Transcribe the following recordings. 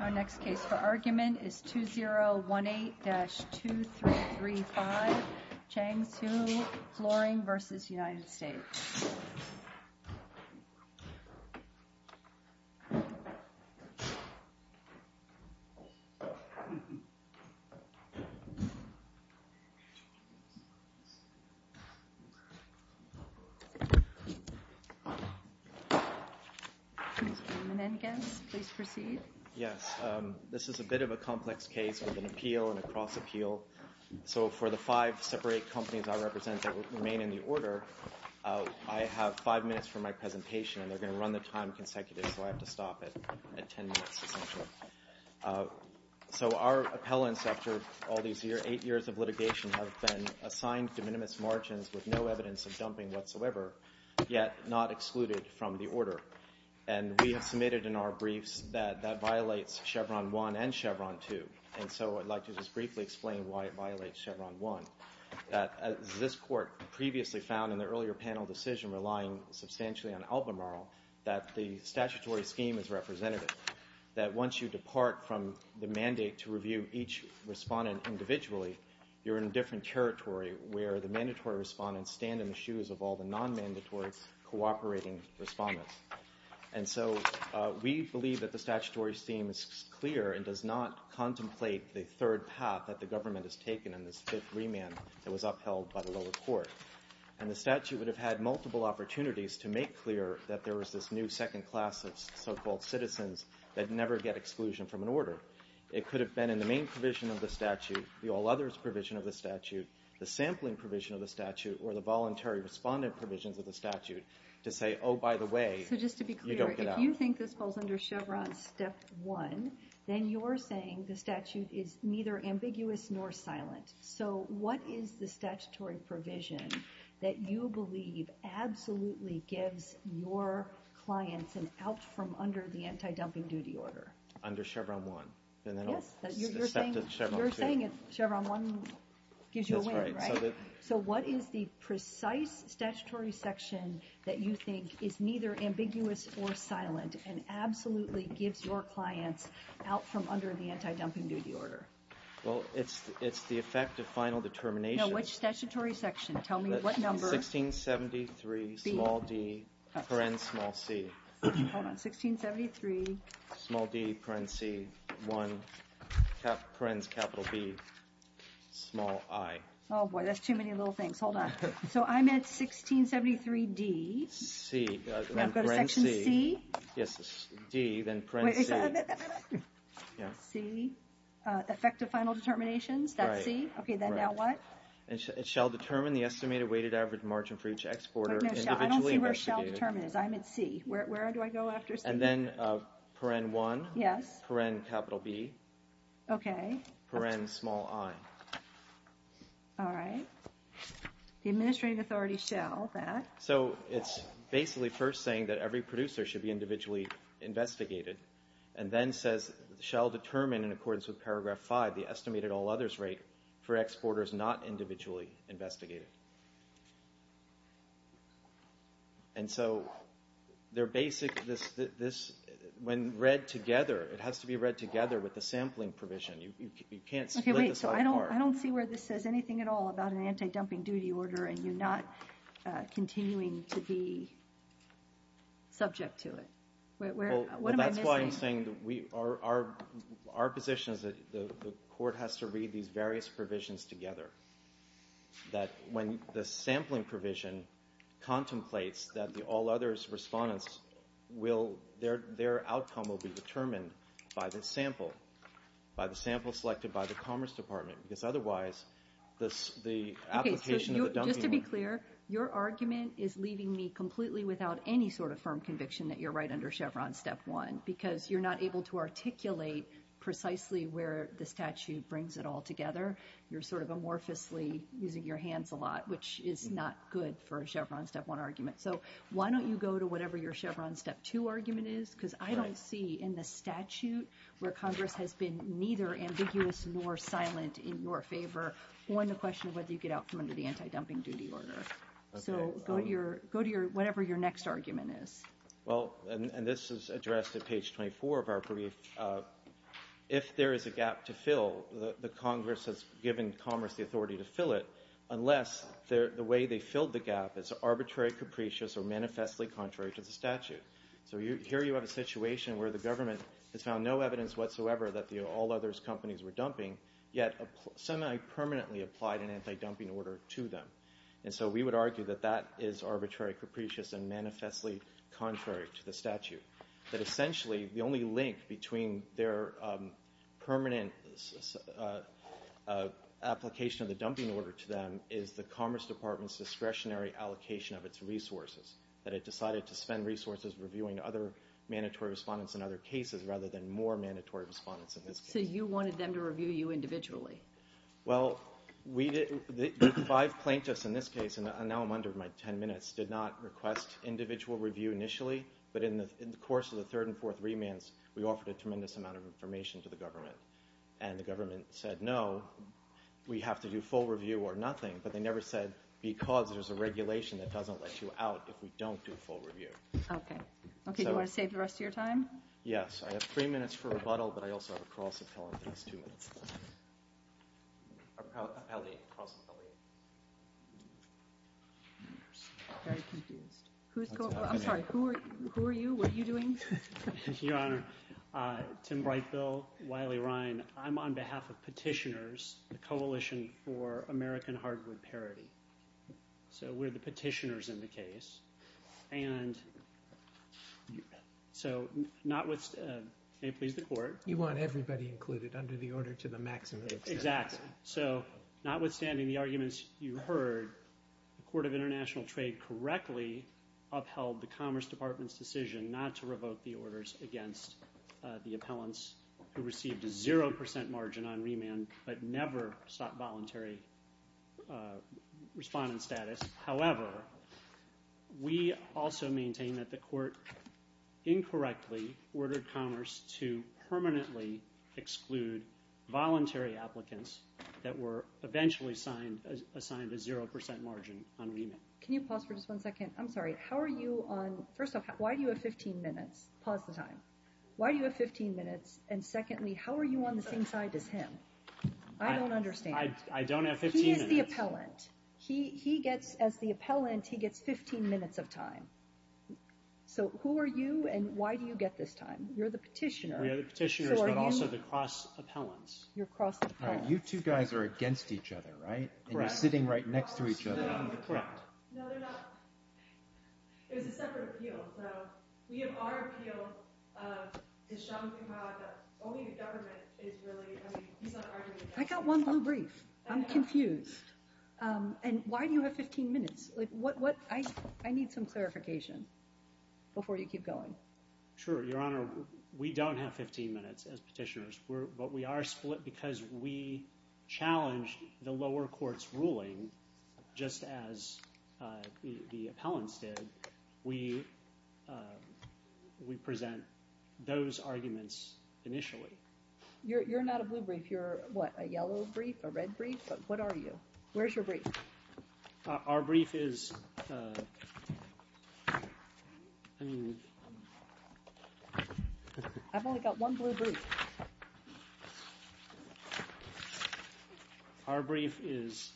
Our next case for argument is 2018-2335 Chang Soo Floring vs. United States. This is a bit of a complex case with an appeal and a cross-appeal. So for the five separate companies I represent that remain in the order, I have five minutes for my presentation, and they're going to run the time consecutive, so I have to stop it at ten minutes, essentially. So our appellants, after all these eight years of litigation, have been assigned de minimis margins with no evidence of dumping whatsoever, yet not excluded from the order. And we have submitted in our briefs that that violates Chevron 1 and Chevron 2, and so I'd like to just briefly explain why it violates Chevron 1. This Court previously found in the earlier panel decision relying substantially on Albemarle that the statutory scheme is representative, that once you depart from the mandate to review each respondent individually, you're in a different territory where the mandatory respondents stand in the shoes of all the non-mandatory cooperating respondents. And so we believe that the statutory scheme is clear and does not contemplate the third path that the government has taken in this fifth remand that was upheld by the lower court. And the statute would have had multiple opportunities to make clear that there was this new second order. It could have been in the main provision of the statute, the all others provision of the statute, the sampling provision of the statute, or the voluntary respondent provisions of the statute to say, oh, by the way, you don't get out. So just to be clear, if you think this falls under Chevron step one, then you're saying the statute is neither ambiguous nor silent. So what is the statutory provision that you believe absolutely gives your clients an out from under the anti-dumping duty order? Under Chevron one. Yes. You're saying Chevron one gives you a waiver, right? So what is the precise statutory section that you think is neither ambiguous or silent and absolutely gives your clients out from under the anti-dumping duty order? Well, it's the effect of final determination. Now, which statutory section? Tell me what number. 1673, small d, paren small c. Hold on, 1673. Small d, paren c, one, parens capital B, small i. Oh, boy, that's too many little things. Hold on. So I'm at 1673 d. C. Now go to section c. Yes, d, then paren c. Wait, wait, wait, wait, wait. C, effect of final determinations, that's c? Right. Okay, then now what? It shall determine the estimated weighted average margin for each exporter individually investigated. I don't see where shall determine is. I'm at c. Where do I go after c? And then paren one. Yes. Paren capital B. Okay. Paren small i. All right. The administrative authority shall that. So it's basically first saying that every producer should be individually investigated and then says shall determine in accordance with paragraph five the estimated all others rate for exporters not individually investigated. And so they're basic, this, when read together, it has to be read together with the sampling provision. You can't split this apart. Okay, wait. So I don't see where this says anything at all about an anti-dumping duty order and you're not continuing to be subject to it. What am I missing? Well, that's why I'm saying that we are, our position is that the court has to read these various provisions together. That when the sampling provision contemplates that the all others respondents will, their outcome will be determined by the sample, by the sample selected by the commerce department. Because otherwise, the application of the dumping order. Okay, so just to be clear, your argument is leaving me completely without any sort of firm conviction that you're right under Chevron step one. Because you're not able to articulate precisely where the statute brings it all together. You're sort of amorphously using your hands a lot, which is not good for a Chevron step one argument. So why don't you go to whatever your Chevron step two argument is, because I don't see in the statute where Congress has been neither ambiguous nor silent in your favor on the question of whether you get out from under the anti-dumping duty order. So go to your, go to your, whatever your next argument is. Well, and this is addressed at page 24 of our brief. If there is a gap to fill, the Congress has given commerce the authority to fill it, unless the way they filled the gap is arbitrary, capricious, or manifestly contrary to the statute. So here you have a situation where the government has found no evidence whatsoever that the all others companies were dumping, yet semi-permanently applied an anti-dumping order to them. And so we would argue that that is arbitrary, capricious, and manifestly contrary to the statute. But essentially, the only link between their permanent application of the dumping order to them is the Commerce Department's discretionary allocation of its resources, that it decided to spend resources reviewing other mandatory respondents in other cases rather than more mandatory respondents in this case. So you wanted them to review you individually? Well, we did, the five plaintiffs in this case, and now I'm under my 10 minutes, did not request individual review initially, but in the course of the third and fourth remands, we offered a tremendous amount of information to the government. And the government said no, we have to do full review or nothing, but they never said because there's a regulation that doesn't let you out if we don't do full review. Okay. Okay, do you want to save the rest of your time? Yes. I have three minutes for rebuttal, but I also have a cross appellate, so that's two minutes. A cross appellate. Very confused. Who's going, I'm sorry, who are you? What are you doing? Your Honor, Tim Brightville, Wiley Ryan. I'm on behalf of Petitioners, the Coalition for American Hardwood Parity. So we're the petitioners in the case. And so notwithstanding, may it please the Court. You want everybody included under the order to the maximum extent. Exactly. So notwithstanding the arguments you heard, the Court of International Trade correctly upheld the Commerce Department's decision not to revoke the orders against the appellants who received a 0% margin on remand but never sought voluntary respondent status. However, we also maintain that the Court incorrectly ordered Commerce to permanently exclude voluntary applicants that were eventually assigned a 0% margin on remand. Can you pause for just one second? I'm sorry. How are you on, first off, why do you have 15 minutes? Pause the time. Why do you have 15 minutes? And secondly, how are you on the same side as him? I don't understand. I don't have 15 minutes. He is the appellant. He gets, as the appellant, he gets 15 minutes of time. So who are you and why do you get this time? You're the petitioner. We are the petitioners but also the cross-appellants. You're cross-appellants. You two guys are against each other, right? Correct. And you're sitting right next to each other. Correct. No, they're not. It was a separate appeal. So we have our appeal to show that only the government is really, I mean, he's not arguing with us. I got one blue brief. I'm confused. And why do you have 15 minutes? I need some clarification before you keep going. Sure. Your Honor, we don't have 15 minutes as petitioners. But we are split because we challenged the lower court's ruling just as the appellants did. We present those arguments initially. You're not a blue brief. You're a yellow brief, a red brief. But what are you? Where's your brief? Our brief is... I've only got one blue brief. Our brief is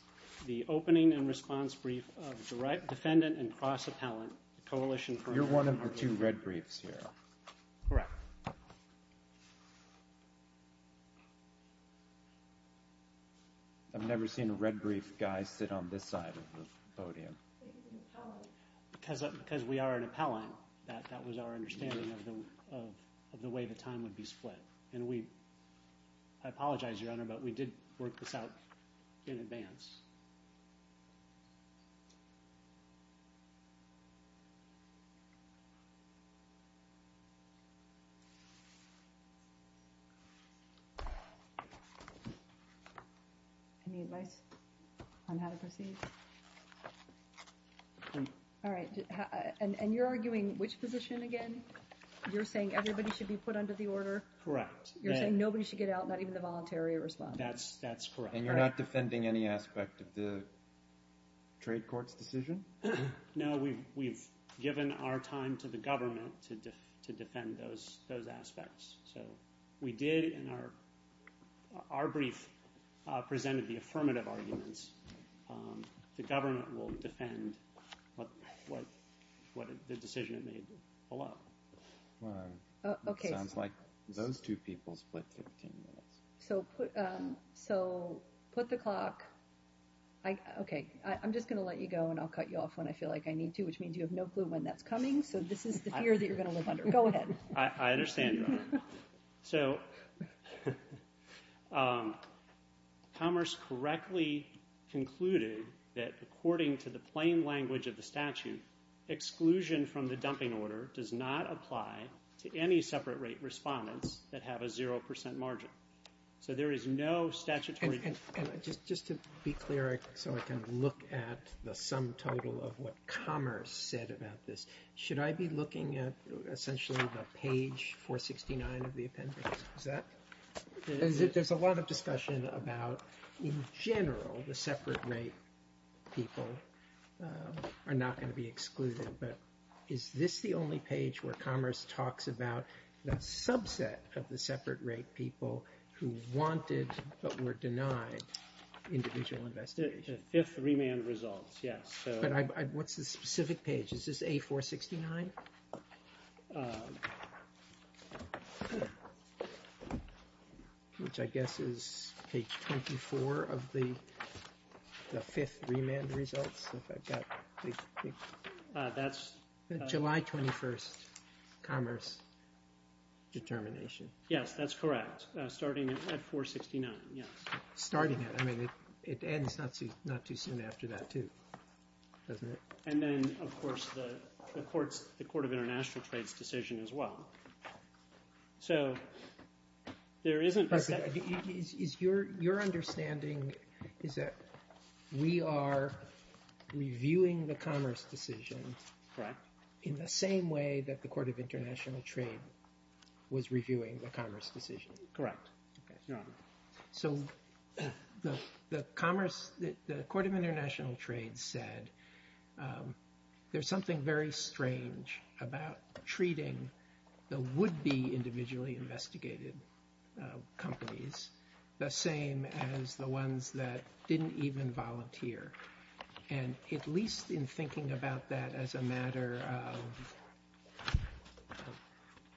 the opening and response brief of defendant and cross-appellant. You're one of the two red briefs here. Correct. I've never seen a red brief guy sit on this side of the podium. He's an appellant. Because we are an appellant, that was our understanding of the way the time would be split. And we, I apologize, Your Honor, but we did work this out in advance. Yes. Any advice on how to proceed? All right. And you're arguing which position again? You're saying everybody should be put under the order? Correct. You're saying nobody should get out, not even the voluntary response? That's correct. And you're not defending any aspect of the trade court's decision? No, we've given our time to the government to defend those aspects. So we did, in our brief, presented the affirmative arguments. The government will defend the decision it made below. Okay. Sounds like those two people split 15 minutes. So put the clock. Okay. I'm just going to let you go and I'll cut you off when I feel like I need to, which means you have no clue when that's coming. So this is the fear that you're going to live under. Go ahead. I understand, Your Honor. So Commerce correctly concluded that according to the plain language of the statute, exclusion from the dumping order does not apply to any separate rate respondents that have a zero percent margin. So there is no statutory... And just to be clear so I can look at the sum total of what Commerce said about this, should I be looking at essentially the page 469 of the appendix? Is that... There's a lot of discussion about in general the separate rate people are not going to be excluded, but is this the only page where Commerce talks about that subset of the separate rate people who wanted but were denied individual investigation? The fifth remand results, yes. But what's the specific page? Is this A469? Which I guess is page 24 of the fifth remand results. If I've got... That's... July 21st, Commerce determination. Yes, that's correct. Starting at 469, yes. Starting it. I mean, it ends not too soon after that too, doesn't it? And then, of course, the Court of International Trade's decision as well. So there isn't... Is your understanding is that we are reviewing the Commerce decision in the same way that the Court of International Trade was reviewing the Commerce decision? Correct. So the Commerce... The Court of International Trade said there's something very strange about treating the would-be individually investigated companies the same as the ones that didn't even volunteer. And at least in thinking about that as a matter of...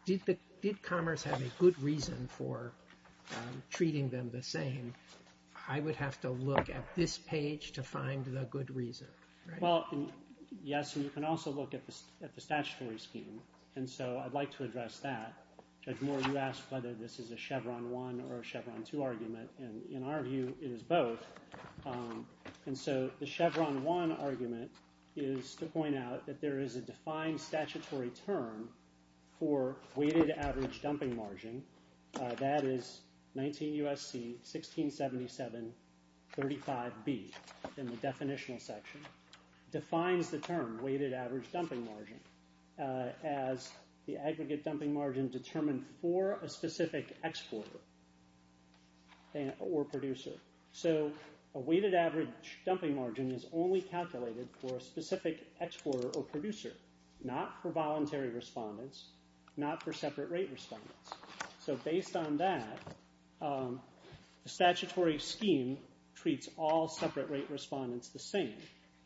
Did Commerce have a good reason for treating them the same? I would have to look at this page to find the good reason, right? Yes, and you can also look at the statutory scheme, and so I'd like to address that. Judge Moore, you asked whether this is a Chevron 1 or a Chevron 2 argument, and in our view, it is both. And so the Chevron 1 argument is to point out that there is a defined statutory term for weighted average dumping margin. That is 19 U.S.C. 1677 35B in the definitional section. Defines the term weighted average dumping margin as the aggregate dumping margin determined for a specific exporter or producer. So a weighted average dumping margin is only calculated for a specific exporter or producer, not for voluntary respondents, not for separate rate respondents. So based on that, the statutory scheme treats all separate rate respondents the same.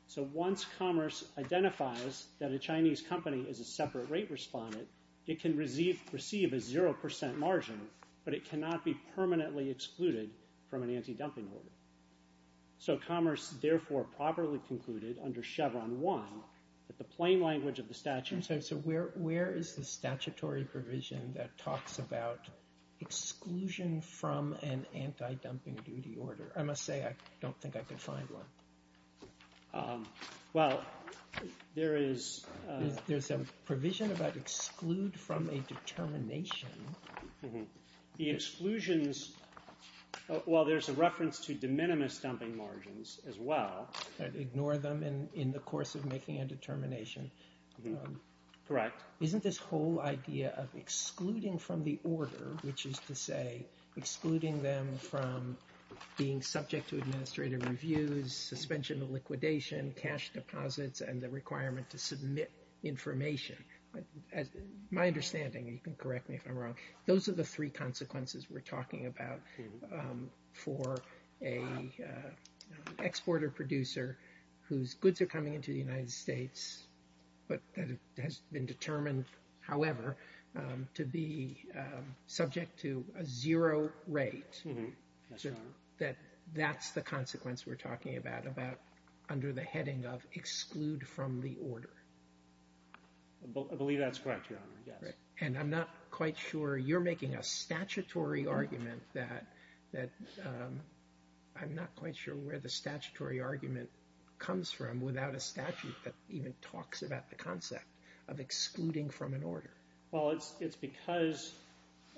So once Commerce identifies that a Chinese company is a separate rate respondent, it can receive a 0% margin, but it cannot be permanently excluded from an anti-dumping order. So Commerce therefore properly concluded under Chevron 1 that the plain language of the statute... I'm sorry, so where is the statutory provision that talks about exclusion from an anti-dumping duty order? I must say I don't think I could find one. Well, there is... There's a provision about exclude from a determination. Mm-hmm. The exclusions... Well, there's a reference to de minimis dumping margins as well. Ignore them in the course of making a determination. Mm-hmm. Correct. Isn't this whole idea of excluding from the order, which is to say excluding them from being subject to administrative reviews, suspension of liquidation, cash deposits, and the requirement to submit information... My understanding, and you can correct me if I'm wrong, those are the three consequences we're talking about for an exporter-producer whose goods are coming into the United States but that has been determined, however, to be subject to a zero rate. Mm-hmm. Yes, Your Honor. That that's the consequence we're talking about under the heading of exclude from the order. I believe that's correct, Your Honor, yes. And I'm not quite sure... You're making a statutory argument that... I'm not quite sure where the statutory argument comes from without a statute that even talks about the concept of excluding from an order. Well, it's because,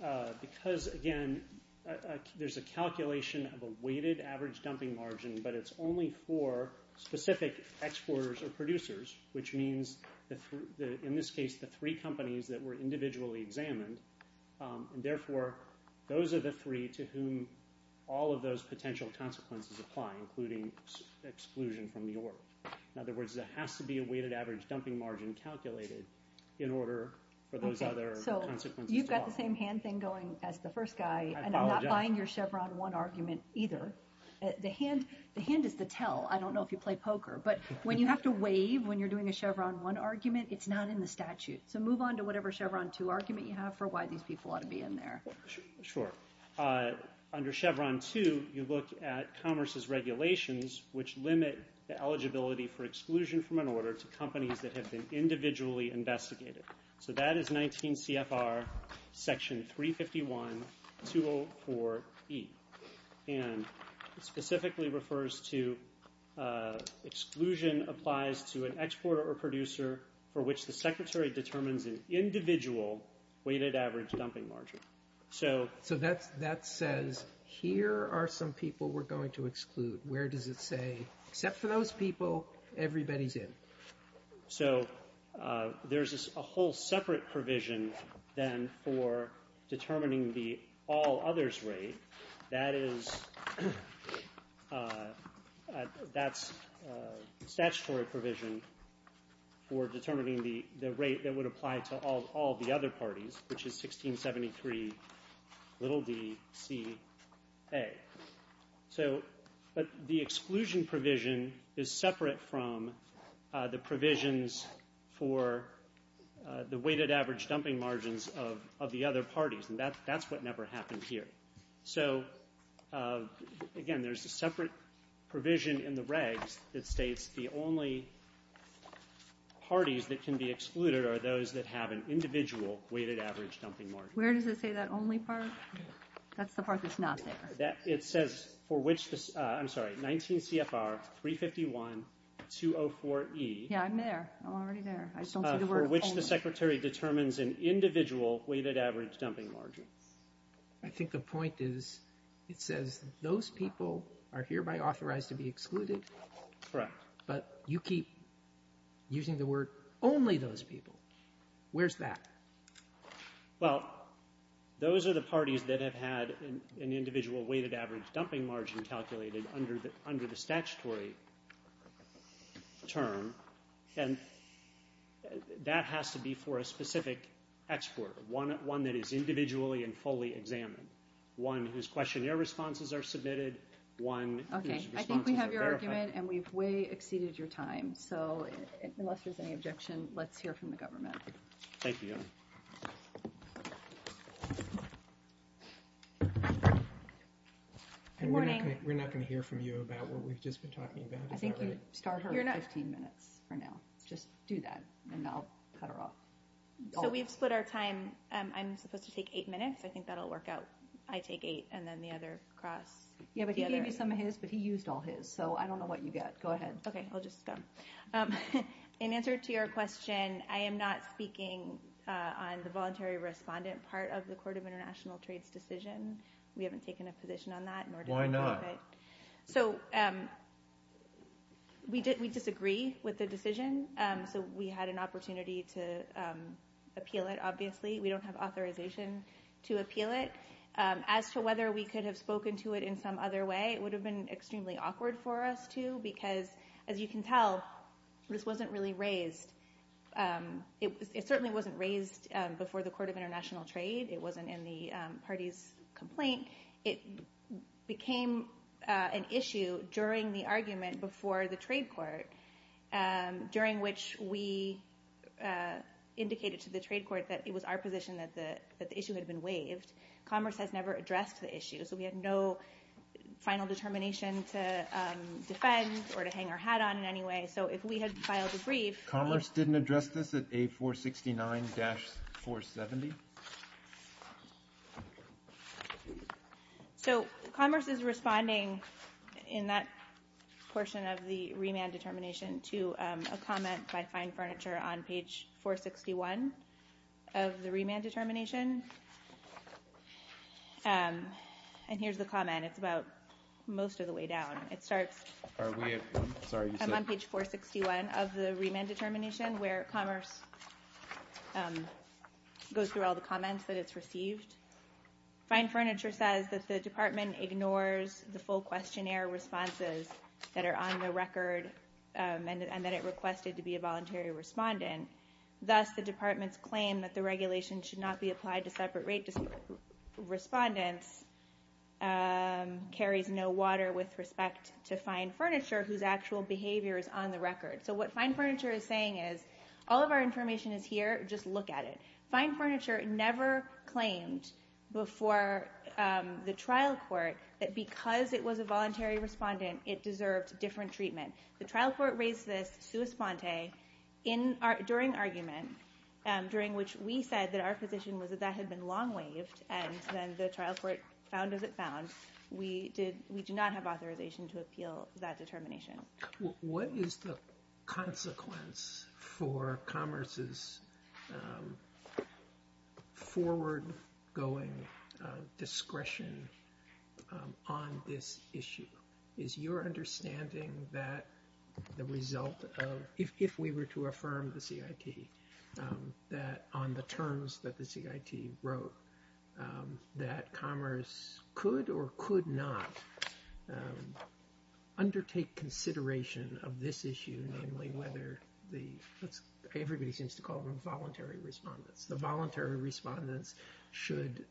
again, there's a calculation of a weighted average dumping margin, but it's only for specific exporters or producers, which means, in this case, the three companies that were individually examined. And therefore, those are the three to whom all of those potential consequences apply, including exclusion from the order. In other words, there has to be a weighted average dumping margin calculated in order for those other consequences to apply. Okay, so you've got the same hand thing going as the first guy... I apologize. ...and I'm not buying your Chevron 1 argument either. The hand is to tell. I don't know if you play poker, but when you have to waive when you're doing a Chevron 1 argument, it's not in the statute. So move on to whatever Chevron 2 argument you have for why these people ought to be in there. Sure. Under Chevron 2, you look at Commerce's regulations, which limit the eligibility for exclusion from an order to companies that have been individually investigated. So that is 19 CFR Section 351, 204E. And it specifically refers to... exclusion applies to an exporter or producer for which the Secretary determines an individual weighted average dumping margin. So... So that says, here are some people we're going to exclude. Where does it say, except for those people, everybody's in? So there's a whole separate provision then for determining the all-others rate. That is... That's a statutory provision for determining the rate that would apply to all the other parties, which is 1673 little d C A. So... But the exclusion provision is separate from the provisions for the weighted average dumping margins of the other parties, and that's what never happened here. So, again, there's a separate provision in the regs that states the only parties that can be excluded are those that have an individual weighted average dumping margin. Where does it say that only part? That's the part that's not there. It says for which the... I'm sorry, 19 CFR 351, 204E... Yeah, I'm there. I'm already there. I don't see the word only. For which the Secretary determines an individual weighted average dumping margin. I think the point is, it says those people are hereby authorized to be excluded. Correct. But you keep using the word only those people. Where's that? Well, those are the parties that have had an individual weighted average dumping margin calculated under the statutory term, and that has to be for a specific export, one that is individually and fully examined, one whose questionnaire responses are submitted, one whose responses are verified. Okay, I think we have your argument, and we've way exceeded your time. So unless there's any objection, let's hear from the government. Thank you. Good morning. We're not going to hear from you about what we've just been talking about. I think you start her at 15 minutes for now. Just do that, and I'll cut her off. So we've split our time. I'm supposed to take eight minutes. I think that'll work out. I take eight, and then the other cross. Yeah, but he gave you some of his, but he used all his, so I don't know what you got. Go ahead. Okay, I'll just go. In answer to your question, I am not speaking on the voluntary respondent part of the Court of International Trades' decision. We haven't taken a position on that. Why not? So we disagree with the decision, so we had an opportunity to appeal it, obviously. We don't have authorization to appeal it. As to whether we could have spoken to it in some other way, it would have been extremely awkward for us to, because as you can tell, this wasn't really raised. It certainly wasn't raised before the Court of International Trade. It wasn't in the party's complaint. It became an issue during the argument before the trade court, during which we indicated to the trade court that it was our position that the issue had been waived. Commerce has never addressed the issue, so we had no final determination to defend or to hang our hat on in any way. So if we had filed a brief... Commerce didn't address this at A469-470? So Commerce is responding in that portion of the remand determination to a comment by Fine Furniture on page 461 of the remand determination. And here's the comment. It's about most of the way down. It starts... Are we at... I'm sorry, you said... I'm on page 461 of the remand determination, where Commerce goes through all the comments that it's received. Fine Furniture says that the department ignores the full questionnaire responses that are on the record and that it requested to be a voluntary respondent. Thus, the department's claim that the regulation should not be applied to separate rate respondents carries no water with respect to Fine Furniture, whose actual behavior is on the record. So what Fine Furniture is saying is, all of our information is here, just look at it. Fine Furniture never claimed before the trial court that because it was a voluntary respondent, it deserved different treatment. The trial court raised this sui sponte during argument, during which we said that our position was that that had been long waived, and then the trial court found as it found, we did not have authorization to appeal that determination. What is the consequence for Commerce's forward-going discretion on this issue? Is your understanding that the result of... If we were to affirm the CIT, that on the terms that the CIT wrote, that Commerce could or could not undertake consideration of this issue, namely whether the... Everybody seems to call them voluntary respondents. The voluntary respondents should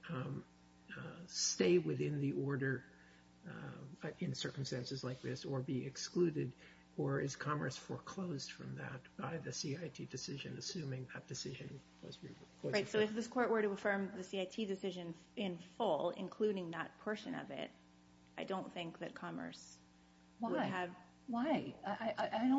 stay within the order in circumstances like this, or be excluded, or is Commerce foreclosed from that by the CIT decision, assuming that decision was... Right, so if this court were to affirm the CIT decision in full, including that portion of it, I don't think that Commerce would have... Why? I don't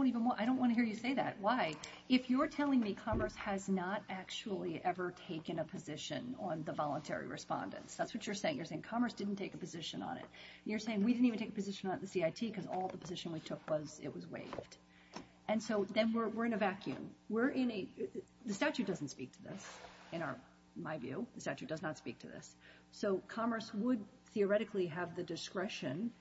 want to hear you say that. Why? If you're telling me Commerce has not actually ever taken a position on the voluntary respondents, that's what you're saying. You're saying Commerce didn't take a position on it. You're saying we didn't even take a position on the CIT because all the position we took was it was waived. Then we're in a vacuum. The statute doesn't speak to this in my view. The statute does not speak to this. Commerce would theoretically have the discretion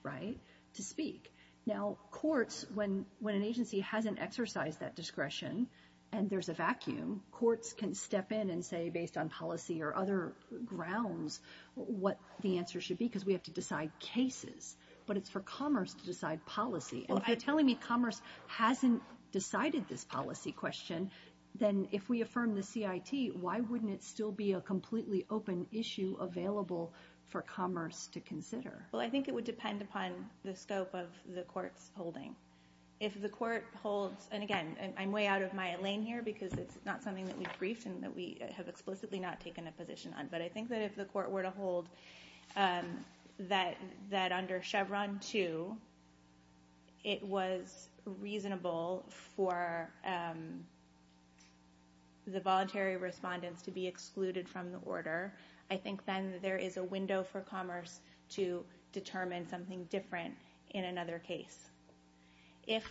to speak. Now, courts, when an agency hasn't exercised that discretion and there's a vacuum, courts can step in and say, based on policy or other grounds, what the answer should be, because we have to decide cases, but it's for Commerce to decide policy. If you're telling me Commerce hasn't decided this policy question, then if we affirm the CIT, why wouldn't it still be a completely open issue available for Commerce to consider? I think it would depend upon the scope of the court's holding. If the court holds... I'm way out of my lane here because it's not something that we've briefed and that we have explicitly not taken a position on, but I think that if the court were to hold that under Chevron 2 it was reasonable for the voluntary respondents to be excluded from the order, I think then there is a window for Commerce to determine something different in another case. But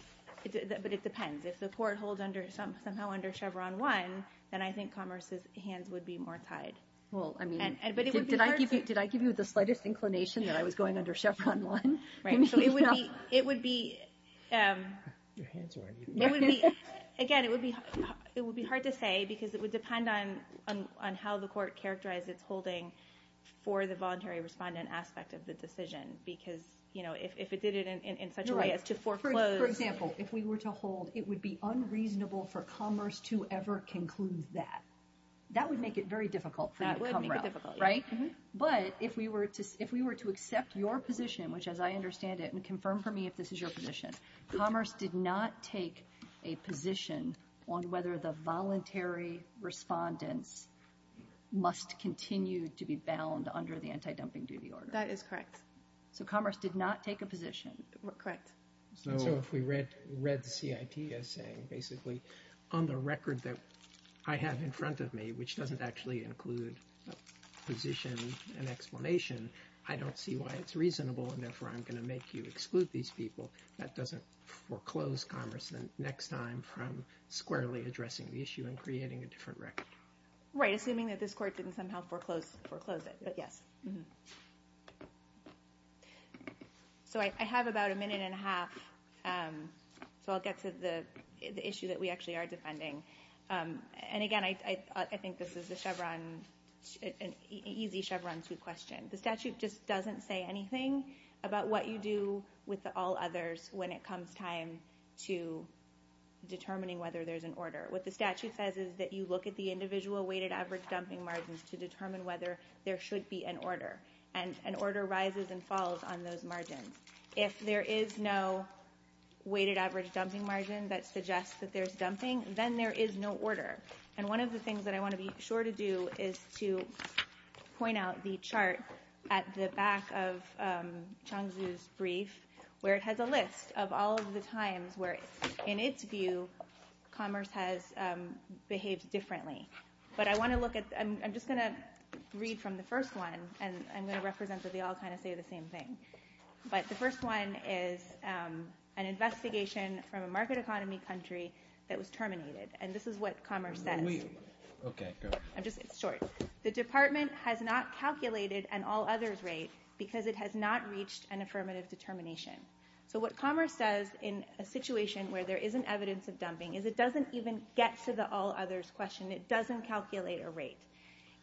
it depends. If the court holds somehow under Chevron 1, then I think Commerce's I mean, did I give you the slightest inclination that I was going under Chevron 1? It would be again, it would be hard to say because it would depend on how the court characterized its holding for the voluntary respondent aspect of the decision because if it did it in such a way as to foreclose For example, if we were to hold it would be unreasonable for Commerce to ever conclude that. That would make it very difficult for you to come around, right? But if we were to accept your position, which as I understand it and confirm for me if this is your position Commerce did not take a position on whether the voluntary respondents must continue to be bound under the anti-dumping duty order. That is correct. So Commerce did not take a position. Correct. So if we read the CIT as saying basically on the record that I have in front of me, which doesn't actually include a position and explanation, I don't see why it's reasonable and therefore I'm going to make you exclude these people. That doesn't foreclose Commerce the next time from squarely addressing the issue and creating a different record. Right, assuming that this court didn't somehow foreclose it. So I have about a minute and a half so I'll get to the issue that we actually are defending and again I think this is a easy Chevron 2 question. The statute just doesn't say anything about what you do with all others when it comes time to determining whether there's an order. What the statute says is that you look at the individual weighted average dumping margins to determine whether there should be an order and an order rises and falls on those margins. If there is no weighted average dumping margin that suggests that there's dumping, then there is no order. And one of the things that I want to be sure to do is to point out the chart at the back of Chongzhu's brief where it has a list of all of the times where in its view Commerce has behaved differently. But I want to look at I'm just going to read from the first one and I'm going to represent that they all say the same thing. The first one is an investigation from a market economy country that was terminated. This is what Commerce says. It's short. The department has not calculated an all others rate because it has not reached an affirmative determination. What Commerce says in a situation where there isn't evidence of dumping is it doesn't even get to the all others question. It doesn't calculate a rate.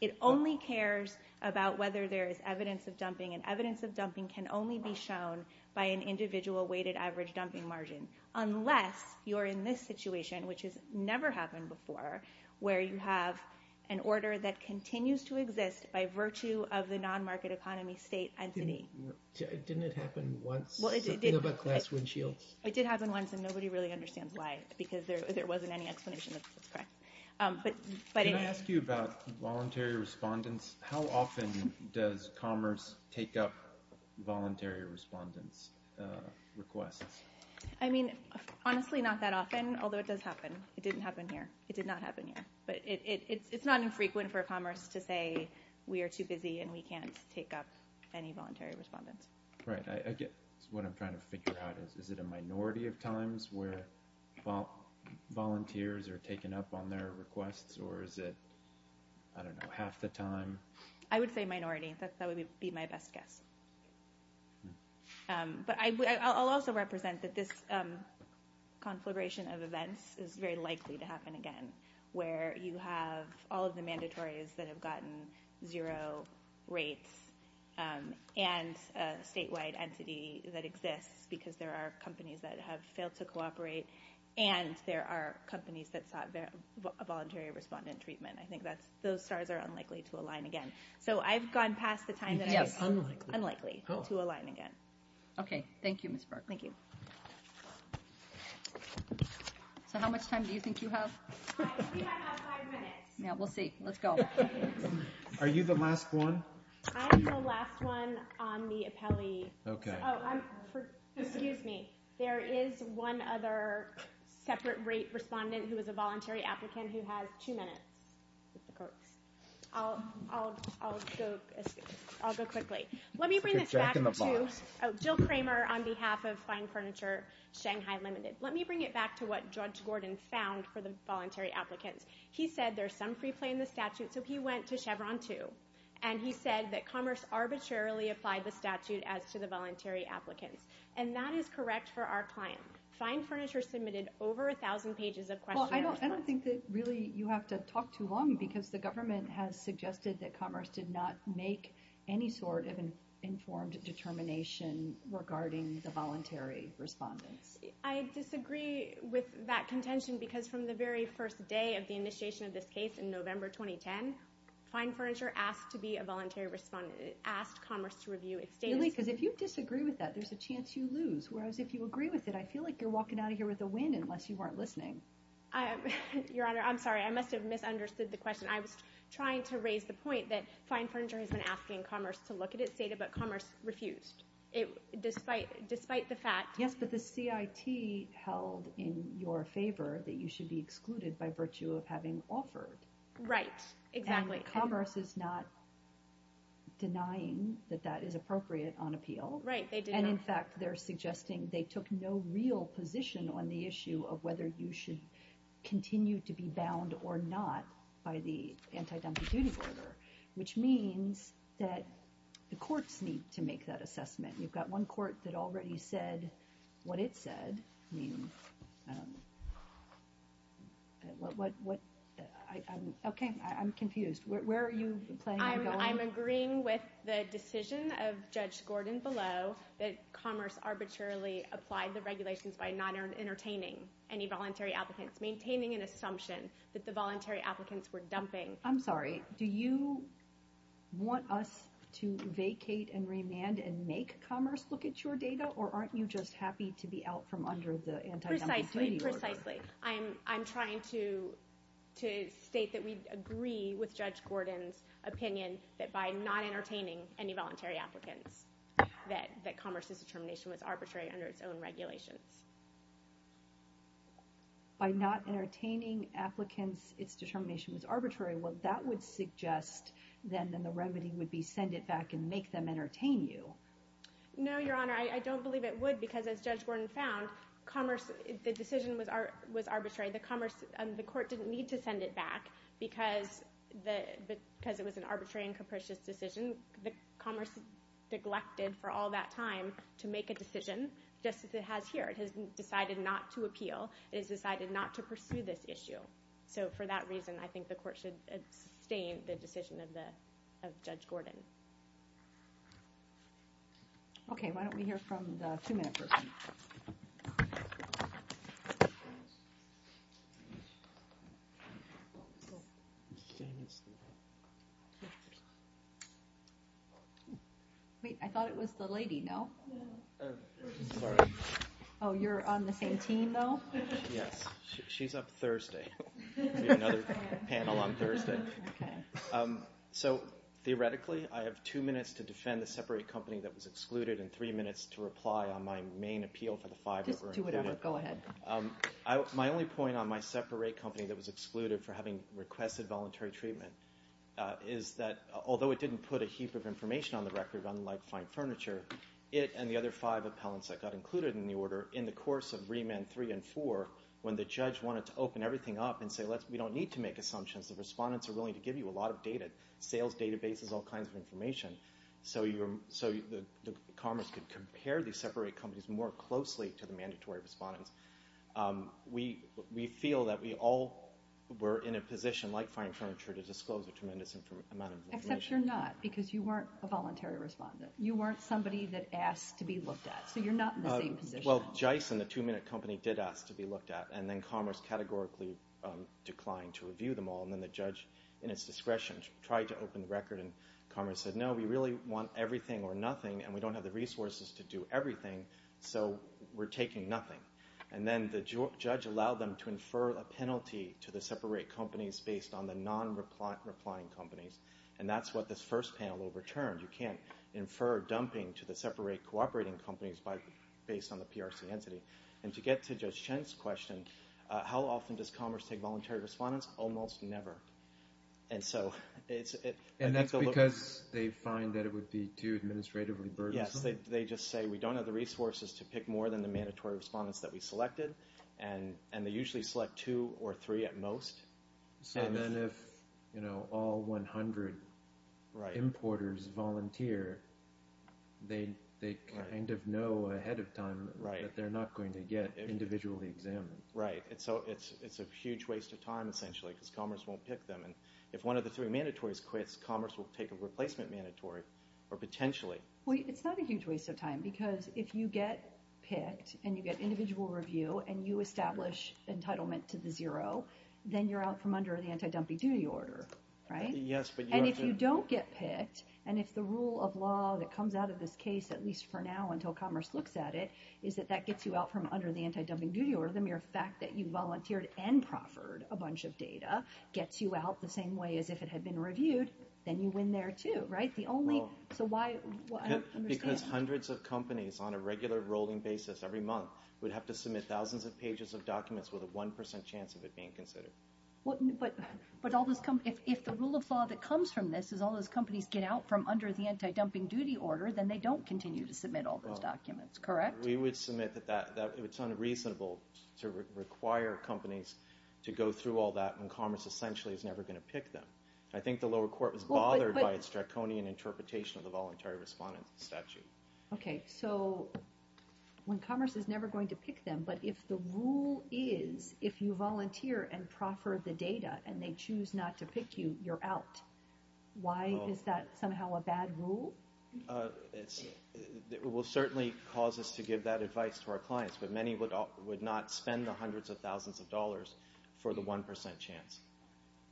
It only cares about whether there is evidence of dumping and evidence of dumping can only be shown by an individual weighted average dumping margin. Unless you're in this situation, which has never happened before, where you have an order that continues to exist by virtue of the non-market economy state entity. Didn't it happen once? Something about glass windshields? It did happen once and nobody really understands why. Because there wasn't any explanation. Can I ask you about voluntary respondents? How often does Commerce take up voluntary respondents' requests? Honestly, not that often, although it does happen. It didn't happen here. It did not happen here. It's not infrequent for Commerce to say we are too busy and we can't take up any voluntary respondents. What I'm trying to figure out is, is it a minority of times where volunteers are taken up on their requests or is it half the time? I would say minority. That would be my best guess. I'll also represent that this conflagration of events is very likely to happen again, where you have all of the mandatories that have gotten zero rates and a statewide entity that exists because there are companies that have failed to cooperate and there are companies that have a voluntary respondent treatment. I think those stars are unlikely to align again. I've gone past the time that it's unlikely to align again. Thank you, Ms. Burke. How much time do you think you have? I think I have five minutes. We'll see. Let's go. Are you the last one? I'm the last one on the appellee. There is one other separate rate respondent who is a voluntary applicant who has two minutes. I'll go quickly. Jill Kramer on behalf of Fine Furniture Shanghai Limited. Let me bring it back to what Judge Gordon found for the voluntary applicants. He said there's some free play in the statute so he went to Chevron 2 and he said that Commerce arbitrarily applied the statute as to the voluntary applicants. That is correct for our client. Fine Furniture submitted over 1,000 pages of questions. I don't think that really you have to talk too long because the government has suggested that Commerce did not make any sort of informed determination regarding the voluntary respondents. I disagree with that contention because from the very first day of the initiation of this case in November 2010 Fine Furniture asked to be a voluntary respondent. It asked Commerce to review its data. Really? Because if you disagree with that there's a chance you lose. Whereas if you agree with it I feel like you're walking out of here with a win unless you weren't listening. Your Honor, I'm sorry. I must have misunderstood the question. I was trying to raise the point that Fine Furniture has been asking Commerce to look at its data but Commerce refused. Despite the fact Yes, but the CIT held in your favor that you should be excluded by virtue of having offered. Right, exactly. Commerce is not denying that that is In fact, they're suggesting they took no real position on the issue of whether you should continue to be bound or not by the anti-dumping duty order which means that the courts need to make that assessment. You've got one court that already said what it said Okay, I'm confused. Where are you playing? I'm agreeing with the decision of Judge Gordon below that Commerce arbitrarily applied the regulations by not entertaining any voluntary applicants. Maintaining an assumption that the voluntary applicants were dumping. I'm sorry, do you want us to vacate and remand and make Commerce look at your data or aren't you just happy to be out from under the anti-dumping duty order? Precisely. I'm trying to state that we agree with Judge Gordon's opinion that by not entertaining any voluntary applicants that Commerce's determination was arbitrary under its own regulations. By not entertaining applicants, its determination was arbitrary. Well, that would suggest then that the remedy would be send it back and make them entertain you. No, Your Honor, I don't believe it would because as Judge Gordon found Commerce, the decision was arbitrary. The Commerce, the court didn't need to send it back because it was an arbitrary and capricious decision. Commerce neglected for all that time to make a decision just as it has here. It has decided not to appeal. It has decided not to pursue this issue. So for that reason I think the court should sustain the decision of Judge Gordon. Okay, why don't we hear from the two-minute person. Wait, I thought it was the lady, no? No. Oh, you're on the same team though? Yes, she's up Thursday. We have another panel on Thursday. So, theoretically, I have two minutes to defend the separate company that was excluded and three minutes to reply on my main appeal for the five that were included. My only point on my separate company that was excluded for having requested voluntary trial and treatment is that although it didn't put a heap of information on the record, unlike fine furniture, it and the other five appellants that got included in the order, in the course of remand three and four, when the judge wanted to open everything up and say, we don't need to make assumptions, the respondents are willing to give you a lot of data, sales databases, all kinds of information, so Commerce could compare these separate companies more closely to the mandatory respondents. We feel that we all were in a position, like fine furniture, to disclose a tremendous amount of information. Except you're not, because you weren't a voluntary respondent. You weren't somebody that asked to be looked at, so you're not in the same position. Well, GICE and the Two Minute Company did ask to be looked at, and then Commerce categorically declined to review them all, and then the judge, in its discretion, tried to open the record, and Commerce said, no, we really want everything or nothing and we don't have the resources to do everything, so we're taking nothing. And then the judge allowed them to infer a penalty to the separate companies based on the non-replying companies, and that's what this first panel overturned. You can't infer dumping to the separate cooperating companies based on the PRC entity. And to get to Judge Chen's question, how often does Commerce take voluntary respondents? Almost never. And that's because they find that it would be too administrative and burdensome? Yes, they just say, we don't have the resources to pick more than the mandatory respondents that we selected, and they usually select two or three at most. So then if all 100 importers volunteer, they kind of know ahead of time that they're not going to get individually examined. Right, so it's a huge waste of time, essentially, because Commerce won't pick them. And if one of the three mandatories quits, Commerce will take a replacement mandatory, or potentially. It's not a huge waste of time, because if you get picked, and you get individual review, and you establish entitlement to the zero, then you're out from under the anti-dumping duty order, right? And if you don't get picked, and if the rule of law that comes out of this case, at least for now, until Commerce looks at it, is that that gets you out from under the anti-dumping duty order, the mere fact that you volunteered and proffered a bunch of data gets you out the same way as if it had been reviewed, then you win there, too. Right? The only... Because hundreds of companies, on a regular rolling basis, every month, would have to submit thousands of pages of documents with a 1% chance of it being considered. But all those companies... If the rule of law that comes from this is all those companies get out from under the anti-dumping duty order, then they don't continue to submit all those documents, correct? We would submit that it's unreasonable to require companies to go through all that when Commerce essentially is never going to pick them. I think the interpretation of the voluntary respondent statute. Okay, so when Commerce is never going to pick them, but if the rule is if you volunteer and proffer the data and they choose not to pick you, you're out. Why is that somehow a bad rule? It will certainly cause us to give that advice to our clients, but many would not spend the hundreds of thousands of dollars for the 1% chance.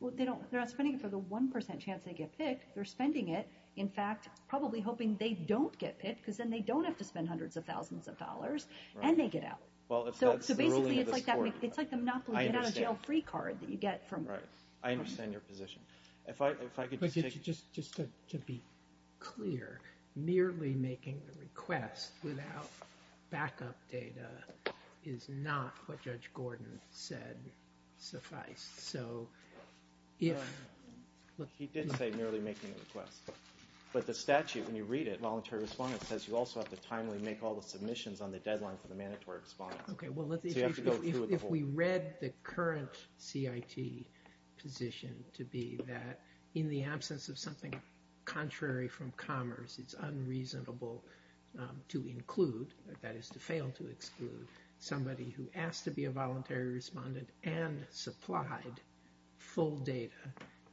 Well, they're not spending it for the 1% chance they get picked, they're spending it in fact, probably hoping they don't get picked because then they don't have to spend hundreds of thousands of dollars and they get out. So basically it's like the Monopoly get out of jail free card that you get from Commerce. I understand your position. Just to be clear merely making the request without backup data is not what Judge Gordon said suffice. So if He did say merely making the request, but the statute when you read it, Voluntary Respondent, says you also have to timely make all the submissions on the deadline for the mandatory respondent. If we read the current CIT position to be that in the absence of something contrary to include that is to fail to exclude somebody who asked to be a Voluntary Respondent and supplied full data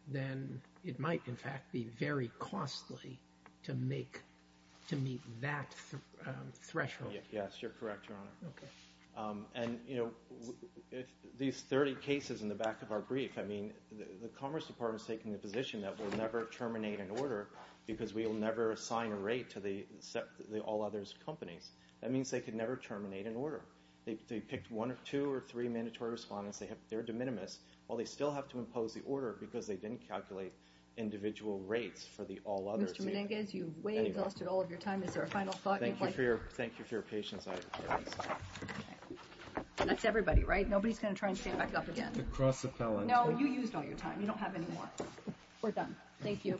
then it might in fact be very costly to make to meet that threshold. Yes, you're correct Your Honor. These 30 cases in the back of our brief, I mean the Commerce Department is taking the position that we'll never terminate an order because we'll never assign a rate to the all others companies. That means they could never terminate an order. They picked one or two or three mandatory respondents, they're de minimis while they still have to impose the order because they didn't calculate individual rates for the all others. Mr. Menendez, you've way exhausted all of your time. Is there a final thought? Thank you for your patience. That's everybody, right? Nobody's going to try and stand back up again. The cross appellant. No, you used all your time. You don't have any more. We're done. Thank you. Thank you.